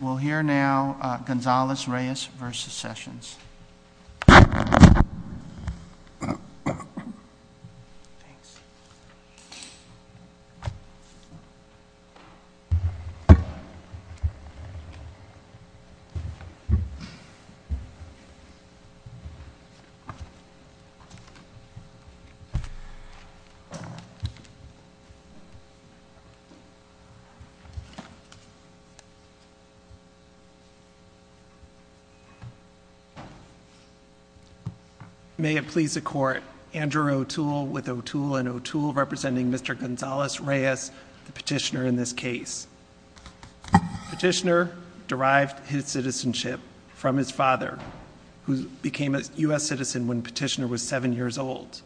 We'll hear now Gonzales-Reyes v. Sessions. May it please the Court, Andrew O'Toole with O'Toole & O'Toole representing Mr. Gonzales-Reyes, the petitioner in this case. Petitioner derived his citizenship from his father, who became a U.S. citizen when Petitioner was seven years old.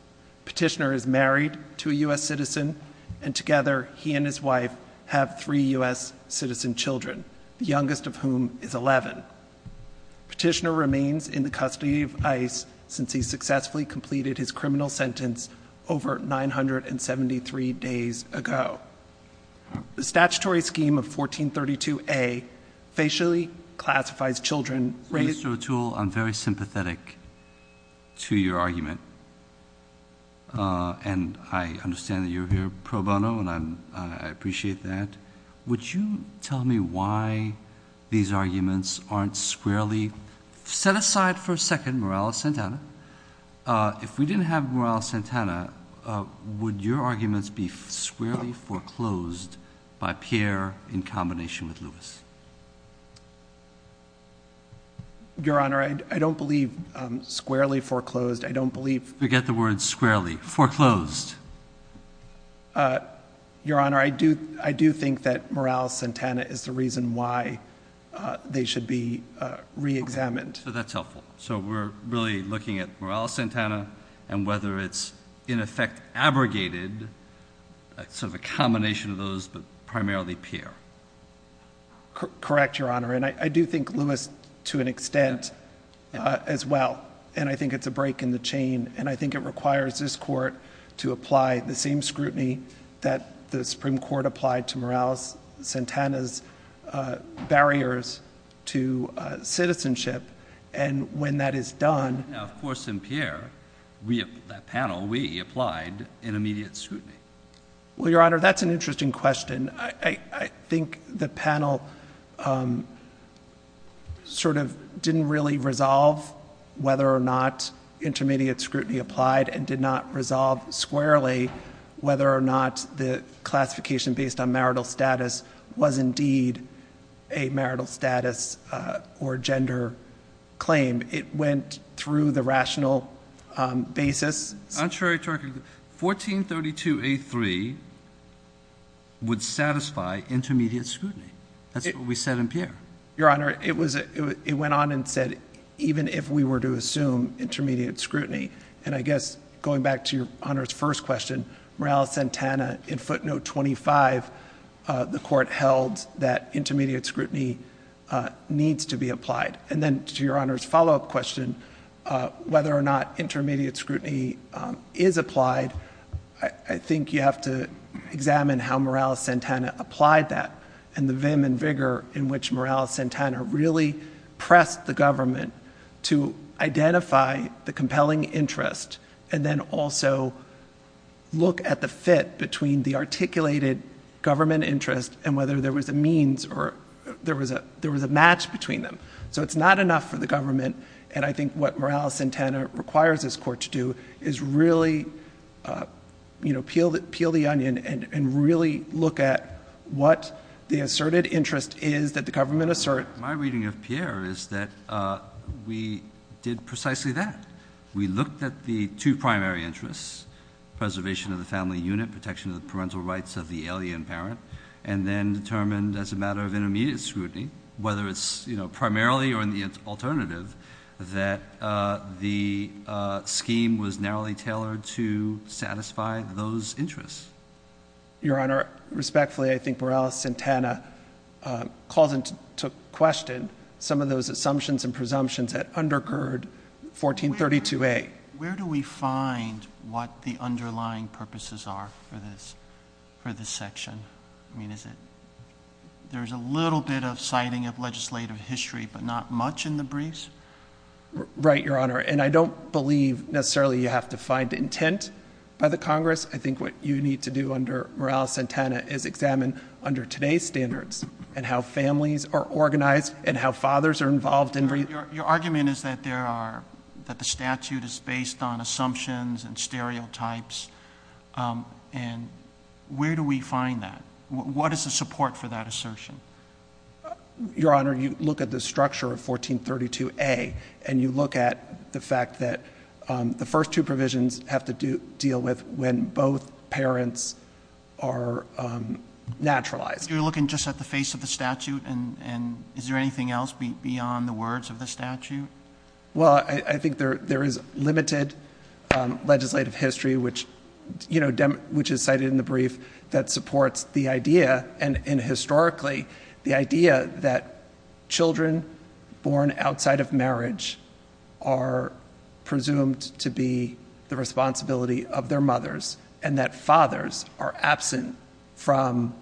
Petitioner is married to a U.S. citizen, and together he and his wife have three U.S. citizen children, the youngest of whom is 11. Petitioner remains in the custody of ICE since he successfully completed his criminal sentence over 973 days ago. The statutory scheme of 1432A facially classifies children raised through a tool- Mr. O'Toole, I'm very sympathetic to your argument, and I understand that you're here pro bono, and I appreciate that. Would you tell me why these arguments aren't squarely- set aside for a second Morales-Santana. If we didn't have Morales-Santana, would your arguments be squarely foreclosed by Pierre in combination with Lewis? Your Honor, I don't believe squarely foreclosed, I don't believe- Forget the word squarely, foreclosed. Your Honor, I do think that Morales-Santana is the reason why they should be reexamined. So that's helpful. So we're really looking at Morales-Santana and whether it's in effect abrogated, sort of a combination of those, but primarily Pierre. Correct, Your Honor, and I do think Lewis, to an extent, as well, and I think it's a to apply the same scrutiny that the Supreme Court applied to Morales-Santana's barriers to citizenship, and when that is done- Now, of course, in Pierre, that panel, we applied intermediate scrutiny. Well, Your Honor, that's an interesting question. I think the panel sort of didn't really resolve whether or not intermediate scrutiny applied and did not resolve squarely whether or not the classification based on marital status was indeed a marital status or gender claim. It went through the rational basis. I'm not sure I can- 1432A3 would satisfy intermediate scrutiny. That's what we said in Pierre. Your Honor, it went on and said even if we were to assume intermediate scrutiny, and I guess going back to Your Honor's first question, Morales-Santana in footnote 25, the court held that intermediate scrutiny needs to be applied, and then to Your Honor's follow-up question, whether or not intermediate scrutiny is applied, I think you have to examine how Morales-Santana applied that and the vim and vigor in which Morales-Santana really pressed the government to identify the compelling interest and then also look at the fit between the articulated government interest and whether there was a means or there was a match between them. So it's not enough for the government, and I think what Morales-Santana requires this court to do is really peel the onion and really look at what the asserted interest is that the government assert. My reading of Pierre is that we did precisely that. We looked at the two primary interests, preservation of the family unit, protection of the parental rights of the alien parent, and then determined as a matter of intermediate scrutiny, whether it's primarily or in the alternative, that the scheme was narrowly tailored to satisfy those interests. Your Honor, respectfully, I think Morales-Santana calls into question some of those assumptions and presumptions that undergird 1432A. Where do we find what the underlying purposes are for this section? I mean, there's a little bit of citing of legislative history but not much in the briefs? Right, Your Honor, and I don't believe necessarily you have to find intent by the Congress. I think what you need to do under Morales-Santana is examine under today's standards and how families are organized and how fathers are involved in briefs. Your argument is that the statute is based on assumptions and stereotypes, and where do we find that? What is the support for that assertion? Your Honor, you look at the structure of 1432A, and you look at the fact that the first two provisions have to deal with when both parents are naturalized. You're looking just at the face of the statute, and is there anything else beyond the words of the statute? Well, I think there is limited legislative history, which is cited in the brief, that supports the idea, and historically, the idea that children born outside of marriage are presumed to be the responsibility of their mothers, and that fathers are absent from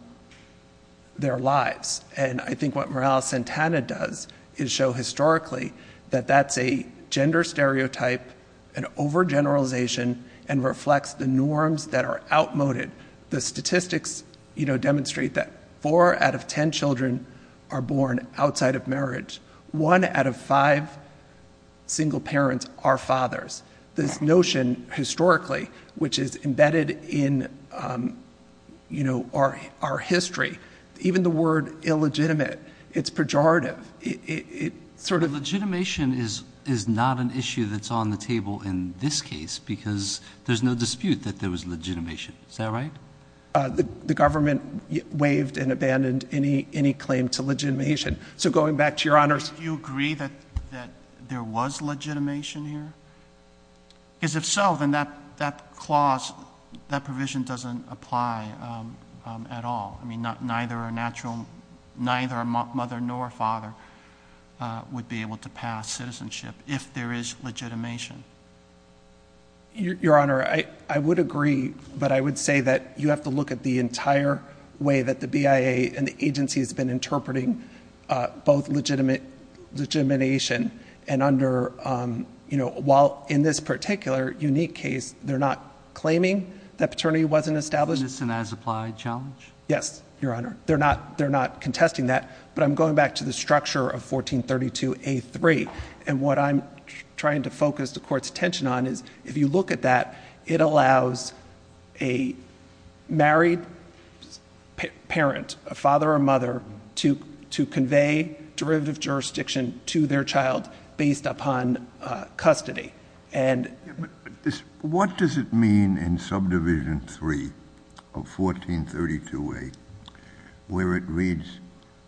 their lives. And I think what Morales-Santana does is show historically that that's a gender stereotype, an overgeneralization, and reflects the norms that are outmoded. The statistics demonstrate that four out of ten children are born outside of marriage. One out of five single parents are fathers. This notion, historically, which is embedded in our history, even the word illegitimate, it's pejorative. Legitimation is not an issue that's on the table in this case because there's no dispute that there was legitimation. Is that right? The government waived and abandoned any claim to legitimation. So going back to Your Honors. Do you agree that there was legitimation here? Because if so, then that provision doesn't apply at all. I mean, neither a mother nor a father would be able to pass citizenship if there is legitimation. Your Honor, I would agree, but I would say that you have to look at the entire way that the BIA and the agency has been interpreting both legitimation and under, while in this particular unique case, they're not claiming that paternity wasn't established. Isn't this an as-applied challenge? Yes, Your Honor. They're not contesting that, but I'm going back to the structure of 1432A3, and what I'm trying to focus the Court's attention on is if you look at that, it allows a married parent, a father or mother, to convey derivative jurisdiction to their child based upon custody. What does it mean in Subdivision 3 of 1432A where it reads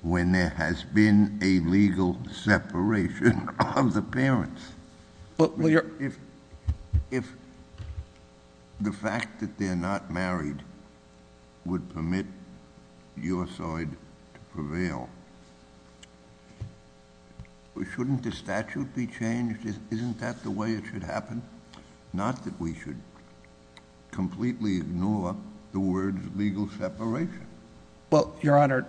when there has been a legal separation of the parents? If the fact that they're not married would permit your side to prevail, shouldn't the statute be changed? Isn't that the way it should happen? Not that we should completely ignore the words legal separation. Well, Your Honor,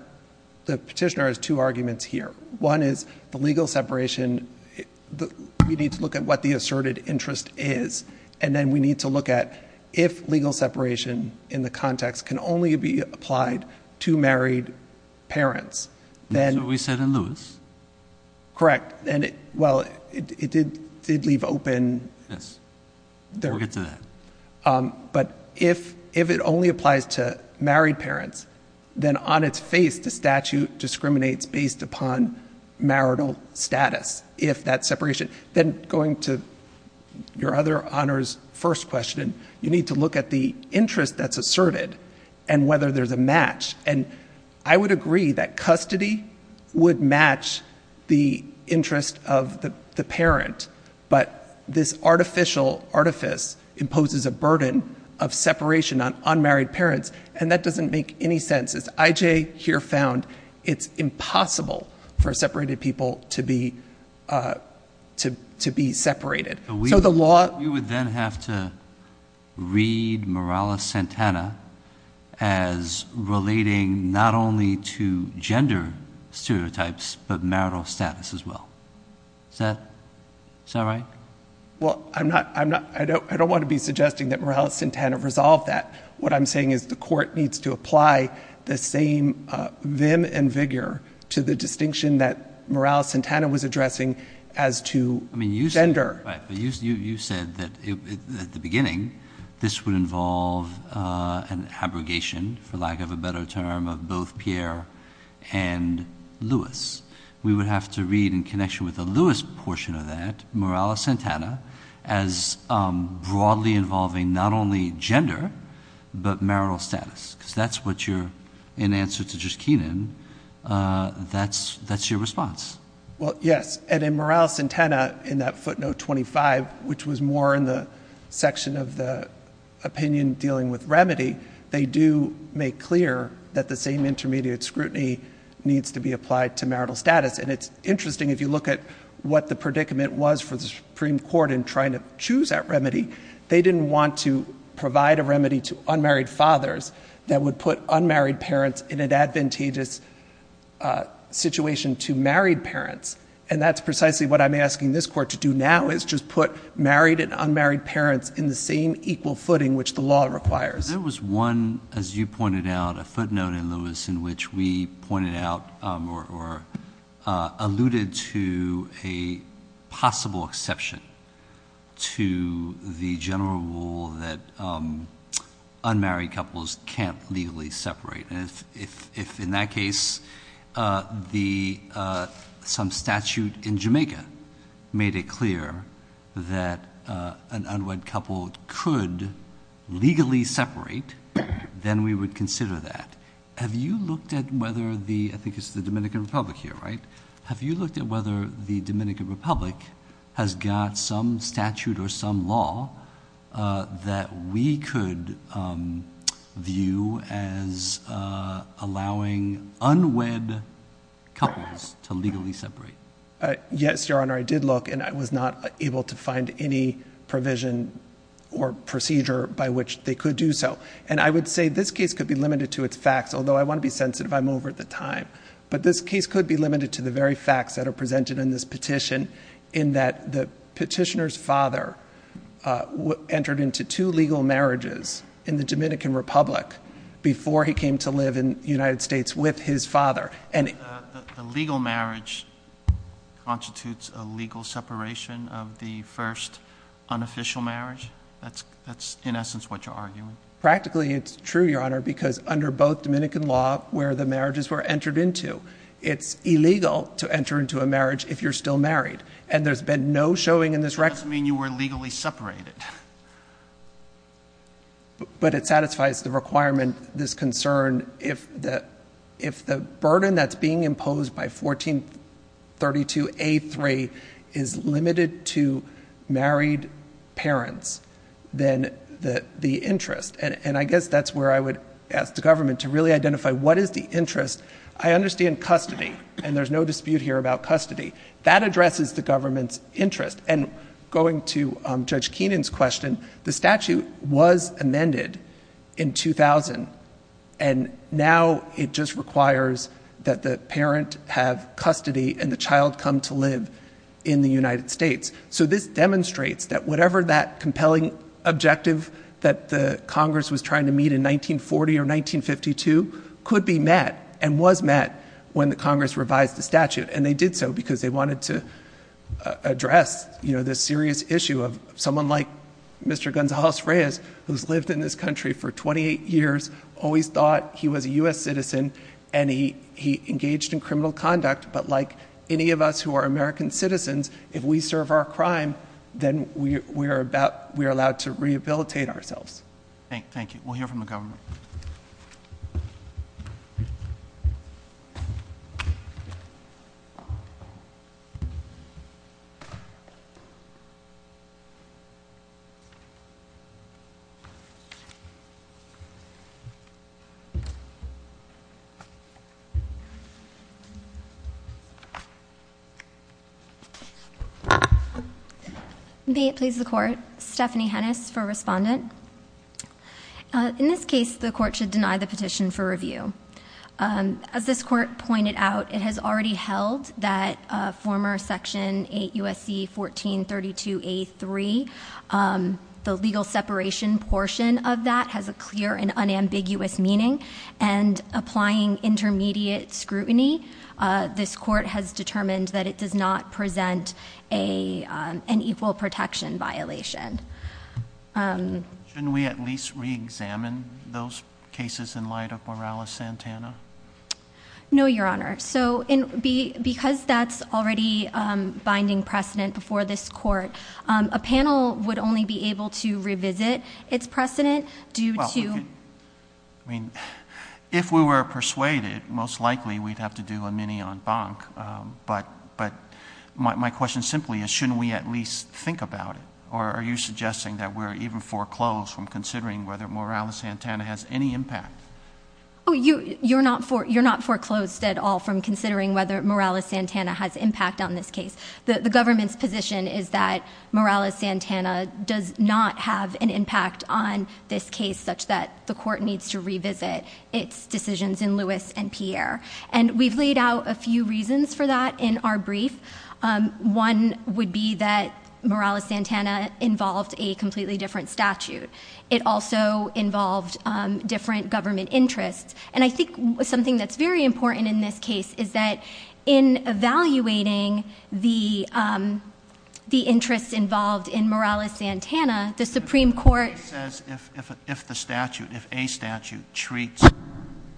the petitioner has two arguments here. One is the legal separation, we need to look at what the asserted interest is, and then we need to look at if legal separation in the context can only be applied to married parents. So we said in Lewis? Correct. Correct. Well, it did leave open. Yes. We'll get to that. But if it only applies to married parents, then on its face, the statute discriminates based upon marital status if that separation. Then going to your other Honor's first question, you need to look at the interest that's asserted and whether there's a match. I would agree that custody would match the interest of the parent, but this artificial artifice imposes a burden of separation on unmarried parents, and that doesn't make any sense. As I.J. here found, it's impossible for separated people to be separated. You would then have to read Morales-Santana as relating not only to gender stereotypes, but marital status as well. Is that right? Well, I don't want to be suggesting that Morales-Santana resolved that. What I'm saying is the court needs to apply the same vim and vigor to the distinction that Morales-Santana was addressing as to gender. You said at the beginning this would involve an abrogation, for lack of a better term, of both Pierre and Louis. We would have to read, in connection with the Louis portion of that, Morales-Santana as broadly involving not only gender but marital status, because that's what you're in answer to just Keenan. That's your response. Well, yes, and in Morales-Santana, in that footnote 25, which was more in the section of the opinion dealing with remedy, they do make clear that the same intermediate scrutiny needs to be applied to marital status. And it's interesting if you look at what the predicament was for the Supreme Court in trying to choose that remedy. They didn't want to provide a remedy to unmarried fathers that would put unmarried parents in an advantageous situation to married parents. And that's precisely what I'm asking this court to do now, is just put married and unmarried parents in the same equal footing which the law requires. There was one, as you pointed out, a footnote in Louis in which we pointed out or alluded to a possible exception to the general rule that unmarried couples can't legally separate. And if in that case some statute in Jamaica made it clear that an unwed couple could legally separate, then we would consider that. Have you looked at whether the – I think it's the Dominican Republic here, right? Have you looked at whether the Dominican Republic has got some statute or some law that we could view as allowing unwed couples to legally separate? Yes, Your Honor. I did look, and I was not able to find any provision or procedure by which they could do so. And I would say this case could be limited to its facts, although I want to be sensitive. I'm over the time. But this case could be limited to the very facts that are presented in this petition in that the petitioner's father entered into two legal marriages in the Dominican Republic before he came to live in the United States with his father. A legal marriage constitutes a legal separation of the first unofficial marriage? That's in essence what you're arguing? Practically, it's true, Your Honor, because under both Dominican law where the marriages were entered into, it's illegal to enter into a marriage if you're still married. And there's been no showing in this record. That doesn't mean you were legally separated. But it satisfies the requirement, this concern, if the burden that's being imposed by 1432A3 is limited to married parents, then the interest. And I guess that's where I would ask the government to really identify what is the interest. I understand custody, and there's no dispute here about custody. That addresses the government's interest. And going to Judge Keenan's question, the statute was amended in 2000, and now it just requires that the parent have custody and the child come to live in the United States. So this demonstrates that whatever that compelling objective that the Congress was trying to meet in 1940 or 1952 could be met and was met when the Congress revised the statute. And they did so because they wanted to address this serious issue of someone like Mr. Gonzales Reyes, who's lived in this country for 28 years, always thought he was a U.S. citizen, and he engaged in criminal conduct. But like any of us who are American citizens, if we serve our crime, then we are allowed to rehabilitate ourselves. Thank you. We'll hear from the government. May it please the court. Stephanie Hennis for respondent. In this case, the court should deny the petition for review. As this court pointed out, it has already held that former section 8 U.S.C. 1432A3, the legal separation portion of that has a clear and unambiguous meaning. And applying intermediate scrutiny, this court has determined that it does not present an equal protection violation. Shouldn't we at least reexamine those cases in light of Morales-Santana? No, Your Honor. So because that's already binding precedent before this court, a panel would only be able to revisit its precedent due to- Well, I mean, if we were persuaded, most likely we'd have to do a mini-en banc. But my question simply is, shouldn't we at least think about it? Or are you suggesting that we're even foreclosed from considering whether Morales-Santana has any impact? You're not foreclosed at all from considering whether Morales-Santana has impact on this case. The government's position is that Morales-Santana does not have an impact on this case, such that the court needs to revisit its decisions in Lewis and Pierre. And we've laid out a few reasons for that in our brief. One would be that Morales-Santana involved a completely different statute. It also involved different government interests. And I think something that's very important in this case is that in evaluating the interests involved in Morales-Santana, the Supreme Court- If the statute, if a statute treats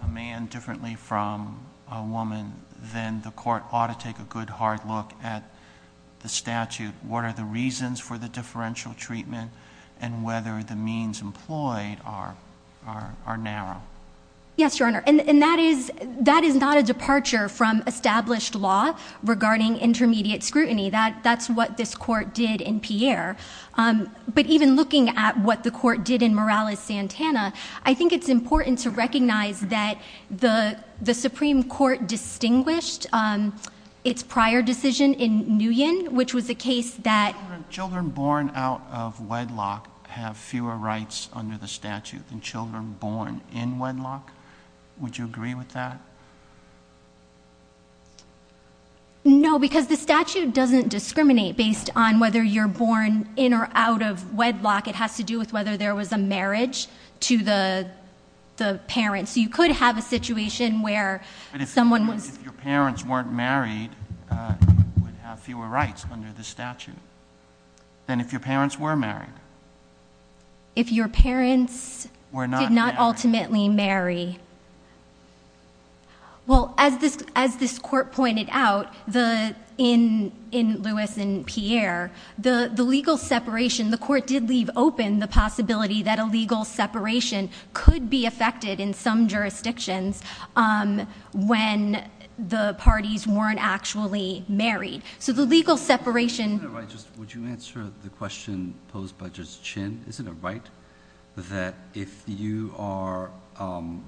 a man differently from a woman, then the court ought to take a good hard look at the statute. What are the reasons for the differential treatment? And whether the means employed are narrow. Yes, Your Honor. And that is not a departure from established law regarding intermediate scrutiny. That's what this court did in Pierre. But even looking at what the court did in Morales-Santana, I think it's important to recognize that the Supreme Court never distinguished its prior decision in Nguyen, which was the case that- Children born out of wedlock have fewer rights under the statute than children born in wedlock. Would you agree with that? No, because the statute doesn't discriminate based on whether you're born in or out of wedlock. It has to do with whether there was a marriage to the parents. You could have a situation where someone was- But if your parents weren't married, you would have fewer rights under the statute than if your parents were married. If your parents- Were not married. Did not ultimately marry. Well, as this court pointed out in Lewis and Pierre, the legal separation- The court did leave open the possibility that a legal separation could be affected in some jurisdictions when the parties weren't actually married. So the legal separation- Would you answer the question posed by Judge Chin? Is it a right that if you are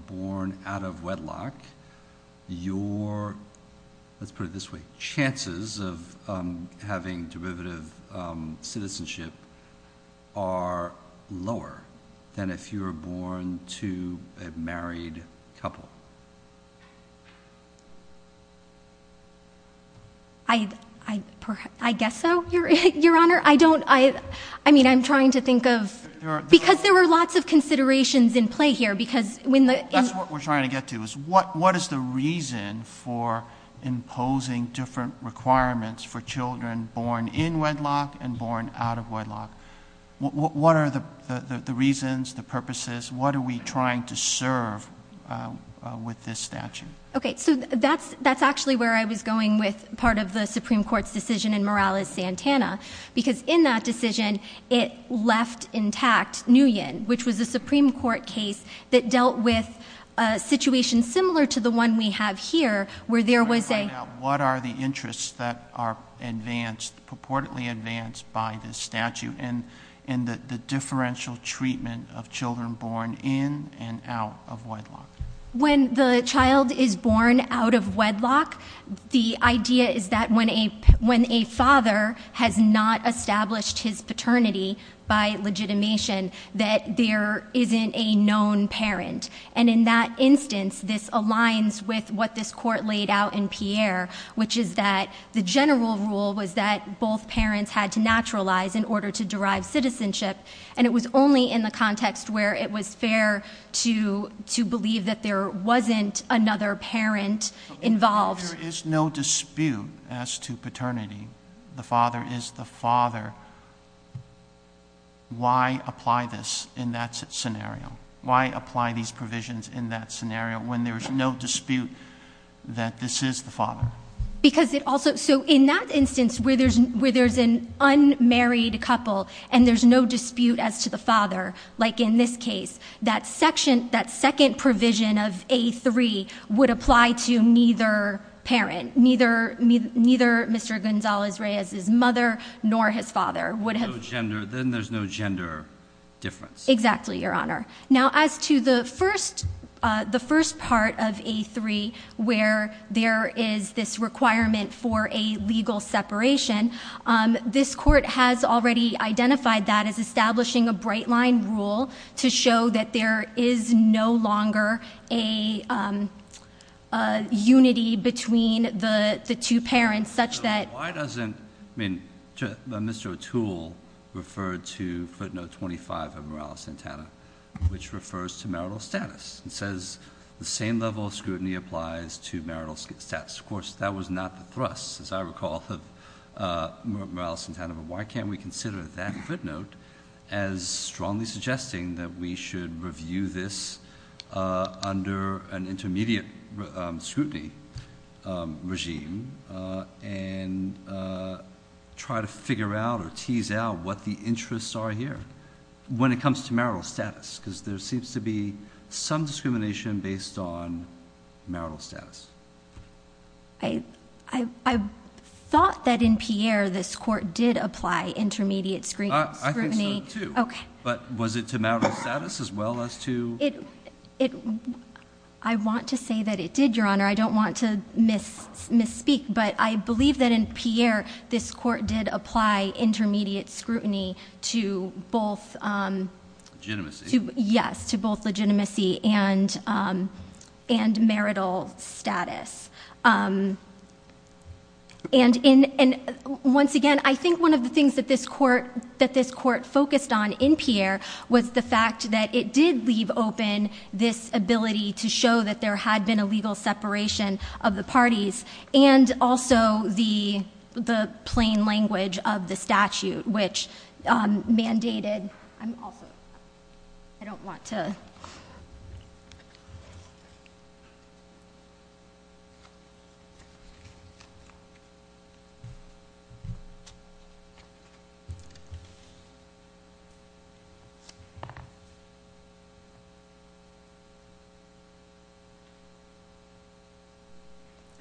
born out of wedlock, your- Let's put it this way. Chances of having derivative citizenship are lower than if you were born to a married couple? I guess so, Your Honor. I don't- I mean, I'm trying to think of- Because there were lots of considerations in play here. That's what we're trying to get to. What is the reason for imposing different requirements for children born in wedlock and born out of wedlock? What are the reasons, the purposes? What are we trying to serve with this statute? Okay, so that's actually where I was going with part of the Supreme Court's decision in Morales-Santana. Because in that decision, it left intact Nguyen, which was a Supreme Court case that dealt with a situation similar to the one we have here, where there was a- What are the interests that are advanced, purportedly advanced by this statute in the differential treatment of children born in and out of wedlock? When the child is born out of wedlock, the idea is that when a father has not established his paternity by legitimation, that there isn't a known parent. And in that instance, this aligns with what this Court laid out in Pierre, which is that the general rule was that both parents had to naturalize in order to derive citizenship. And it was only in the context where it was fair to believe that there wasn't another parent involved. There is no dispute as to paternity. The father is the father. Why apply this in that scenario? Why apply these provisions in that scenario when there's no dispute that this is the father? Because it also- So in that instance, where there's an unmarried couple and there's no dispute as to the father, like in this case, that second provision of A3 would apply to neither parent. Neither Mr. Gonzalez-Reyes' mother nor his father would have- Then there's no gender difference. Exactly, Your Honor. Now, as to the first part of A3 where there is this requirement for a legal separation, this Court has already identified that as establishing a bright line rule to show that there is no longer a unity between the two parents such that- Now, why doesn't- I mean, Mr. Atul referred to footnote 25 of Morales-Santana, which refers to marital status. It says the same level of scrutiny applies to marital status. Of course, that was not the thrust, as I recall, of Morales-Santana. But why can't we consider that footnote as strongly suggesting that we should review this under an intermediate scrutiny regime and try to figure out or tease out what the interests are here when it comes to marital status? Because there seems to be some discrimination based on marital status. I thought that in Pierre this Court did apply intermediate scrutiny- I think so, too. Okay. But was it to marital status as well as to- I want to say that it did, Your Honor. I don't want to misspeak. But I believe that in Pierre this Court did apply intermediate scrutiny to both- Legitimacy. Yes, to both legitimacy and marital status. And once again, I think one of the things that this Court focused on in Pierre was the fact that it did leave open this ability to show that there had been a legal separation of the parties and also the plain language of the statute, which mandated- I'm also- I don't want to-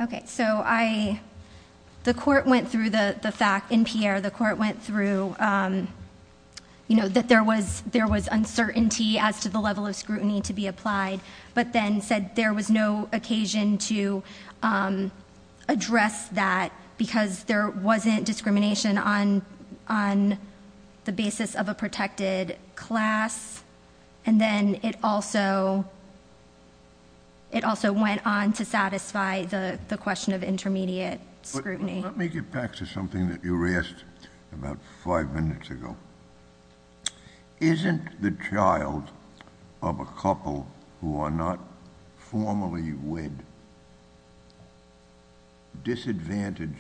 Okay. So I- the Court went through the fact in Pierre, the Court went through, you know, that there was uncertainty as to the level of scrutiny to be applied, but then said there was no occasion to address that because there wasn't discrimination on the basis of a protected class. And then it also went on to satisfy the question of intermediate scrutiny. Let me get back to something that you asked about five minutes ago. Isn't the child of a couple who are not formally wed disadvantaged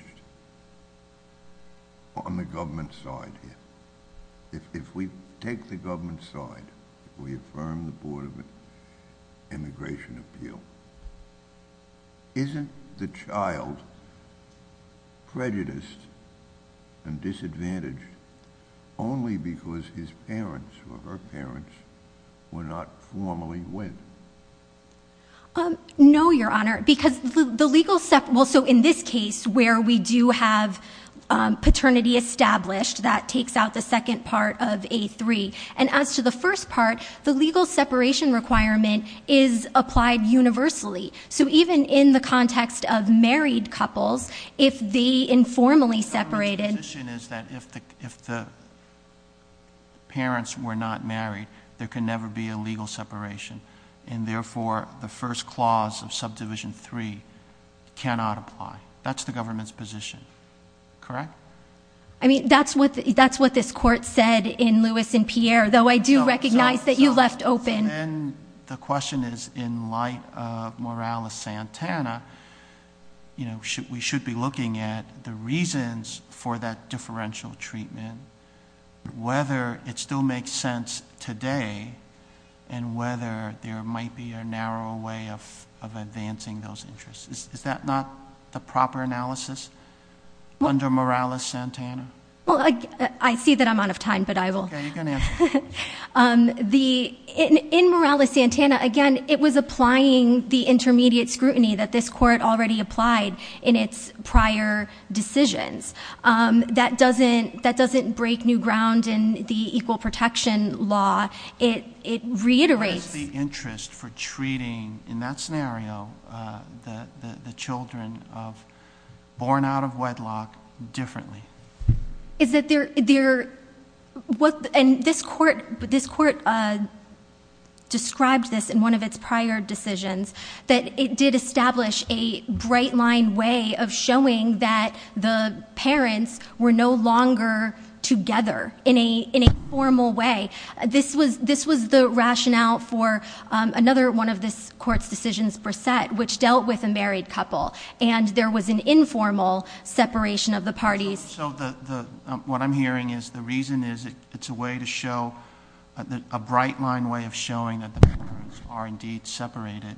on the government side here? If we take the government side, if we affirm the Board of Immigration Appeal, isn't the child prejudiced and disadvantaged only because his parents or her parents were not formally wed? No, Your Honor, because the legal- well, so in this case where we do have paternity established, that takes out the second part of A3. And as to the first part, the legal separation requirement is applied universally. So even in the context of married couples, if they informally separated- The position is that if the parents were not married, there could never be a legal separation. And therefore, the first clause of Subdivision 3 cannot apply. That's the government's position, correct? I mean, that's what this Court said in Lewis and Pierre, though I do recognize that you left open- Then the question is, in light of Morales-Santana, we should be looking at the reasons for that differential treatment, whether it still makes sense today, and whether there might be a narrow way of advancing those interests. Is that not the proper analysis under Morales-Santana? Well, I see that I'm out of time, but I will- Okay, you can answer. In Morales-Santana, again, it was applying the intermediate scrutiny that this Court already applied in its prior decisions. That doesn't break new ground in the Equal Protection Law. It reiterates- What is the interest for treating, in that scenario, the children born out of wedlock differently? Is that there- And this Court described this in one of its prior decisions, that it did establish a bright-line way of showing that the parents were no longer together in a formal way. This was the rationale for another one of this Court's decisions, Brissett, which dealt with a married couple. And there was an informal separation of the parties. So what I'm hearing is the reason is it's a way to show, a bright-line way of showing that the parents are indeed separated.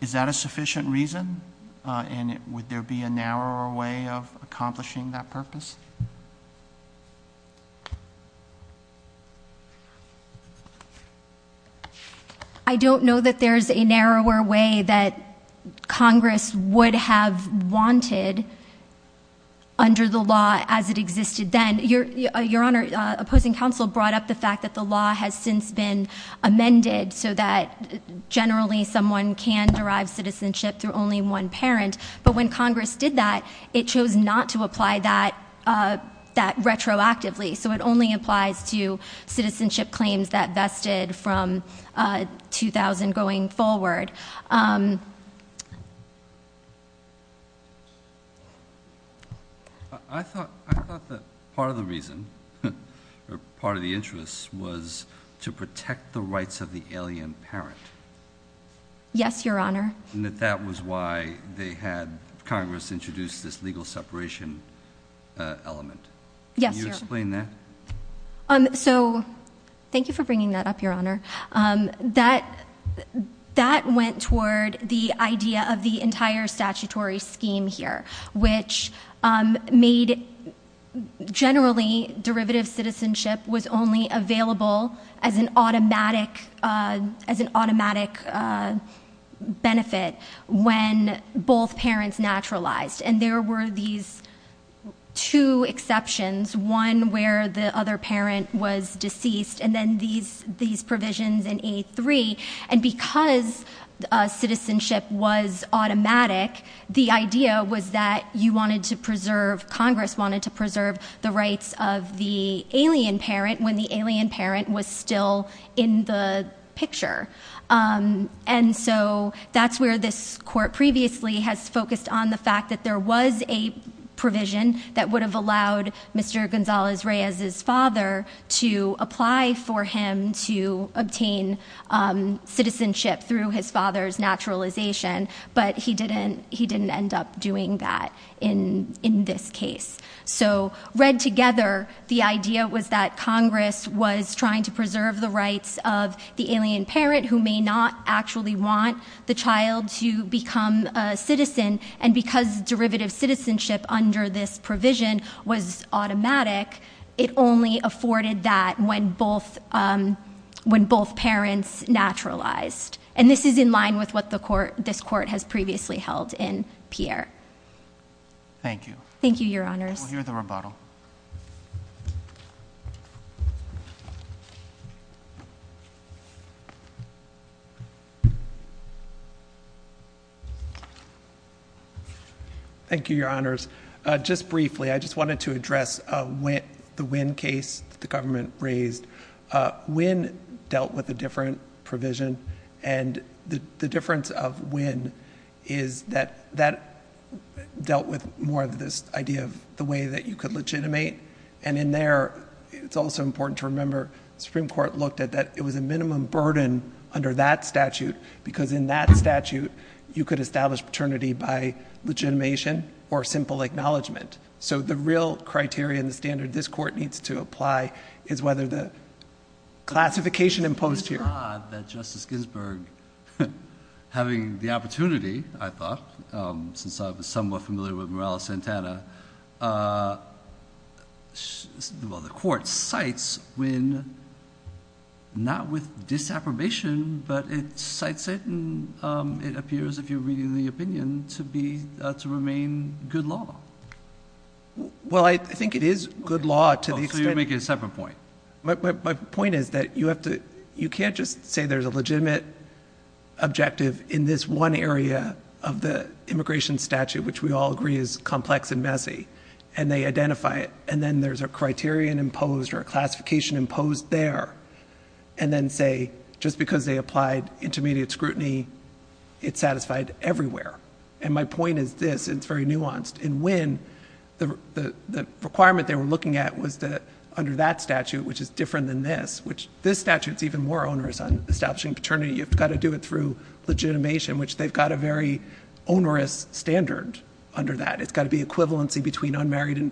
Is that a sufficient reason? And would there be a narrower way of accomplishing that purpose? I don't know that there's a narrower way that Congress would have wanted under the law as it existed then. Your Honor, opposing counsel brought up the fact that the law has since been amended so that generally someone can derive citizenship through only one parent. But when Congress did that, it chose not to apply that retroactively. So it only applies to citizenship claims that vested from 2000 going forward. I thought that part of the reason, or part of the interest, was to protect the rights of the alien parent. Yes, Your Honor. And that that was why they had Congress introduce this legal separation element. Yes, Your Honor. Can you explain that? So, thank you for bringing that up, Your Honor. That went toward the idea of the entire statutory scheme here. Which made, generally, derivative citizenship was only available as an automatic benefit when both parents naturalized. And there were these two exceptions. One where the other parent was deceased. And then these provisions in A3. And because citizenship was automatic, the idea was that Congress wanted to preserve the rights of the alien parent when the alien parent was still in the picture. And so that's where this court previously has focused on the fact that there was a provision that would have allowed Mr. Gonzalez-Reyes' father to apply for him to obtain citizenship through his father's naturalization. But he didn't end up doing that in this case. So, read together, the idea was that Congress was trying to preserve the rights of the alien parent who may not actually want the child to become a citizen. And because derivative citizenship under this provision was automatic, it only afforded that when both parents naturalized. And this is in line with what this court has previously held in Pierre. Thank you. Thank you, Your Honors. We'll hear the rebuttal. Thank you, Your Honors. Just briefly, I just wanted to address the Wynn case that the government raised. Wynn dealt with a different provision. And the difference of Wynn is that that dealt with more of this idea of the way that you could legitimate. And in there, it's also important to remember the Supreme Court looked at that it was a minimum burden under that statute because in that statute, you could establish paternity by legitimation or simple acknowledgement. So, the real criteria and the standard this court needs to apply is whether the classification imposed here. It's odd that Justice Ginsburg, having the opportunity, I thought, since I was somewhat familiar with Morales-Santana. Well, the court cites Wynn not with disaffirmation, but it cites it and it appears, if you're reading the opinion, to remain good law. Well, I think it is good law to the extent. So, you're making a separate point. My point is that you can't just say there's a legitimate objective in this one area of the immigration statute, which we all agree is complex and messy, and they identify it. And then there's a criterion imposed or a classification imposed there. And then say, just because they applied intermediate scrutiny, it's satisfied everywhere. And my point is this. It's very nuanced. In Wynn, the requirement they were looking at was that under that statute, which is different than this, which this statute is even more onerous on establishing paternity. You've got to do it through legitimation, which they've got a very onerous standard under that. It's got to be equivalency between unmarried and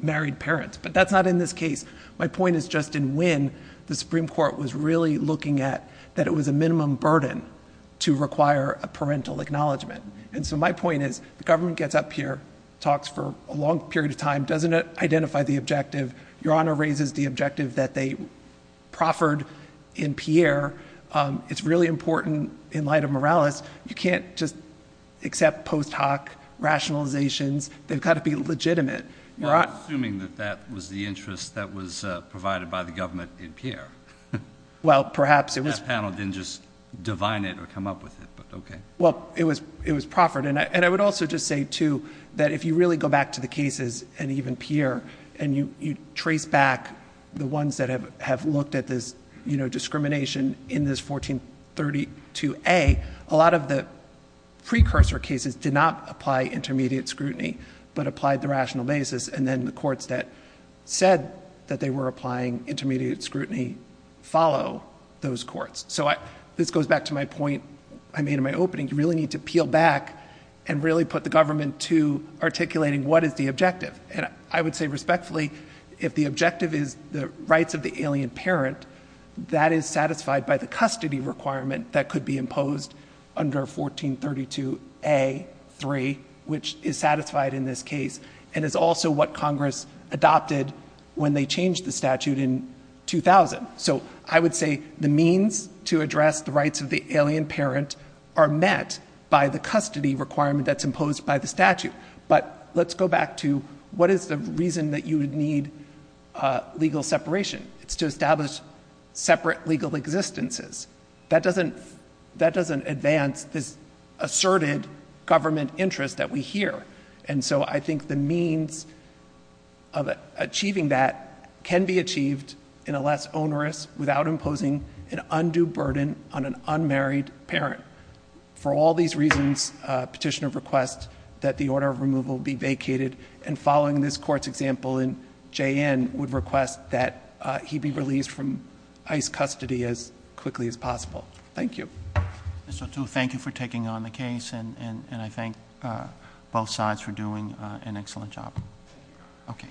married parents. But that's not in this case. My point is just in Wynn, the Supreme Court was really looking at that it was a minimum burden to require a parental acknowledgement. And so my point is the government gets up here, talks for a long period of time, doesn't identify the objective. Your Honor raises the objective that they proffered in Pierre. It's really important in light of Morales. You can't just accept post hoc rationalizations. They've got to be legitimate. Well, assuming that that was the interest that was provided by the government in Pierre. Well, perhaps it was. That panel didn't just divine it or come up with it, but okay. Well, it was proffered. And I would also just say, too, that if you really go back to the cases, and even Pierre, and you trace back the ones that have looked at this discrimination in this 1432A, a lot of the precursor cases did not apply intermediate scrutiny but applied the rational basis. And then the courts that said that they were applying intermediate scrutiny follow those courts. So this goes back to my point I made in my opening. You really need to peel back and really put the government to articulating what is the objective. And I would say respectfully, if the objective is the rights of the alien parent, that is satisfied by the custody requirement that could be imposed under 1432A.3, which is satisfied in this case and is also what Congress adopted when they changed the statute in 2000. So I would say the means to address the rights of the alien parent are met by the custody requirement that's imposed by the statute. But let's go back to what is the reason that you would need legal separation. It's to establish separate legal existences. That doesn't advance this asserted government interest that we hear. And so I think the means of achieving that can be achieved in a less onerous, without imposing an undue burden on an unmarried parent. For all these reasons, Petitioner requests that the order of removal be vacated. And following this Court's example, J.N. would request that he be released from ICE custody as quickly as possible. Thank you. Mr. O'Toole, thank you for taking on the case, and I thank both sides for doing an excellent job. Okay.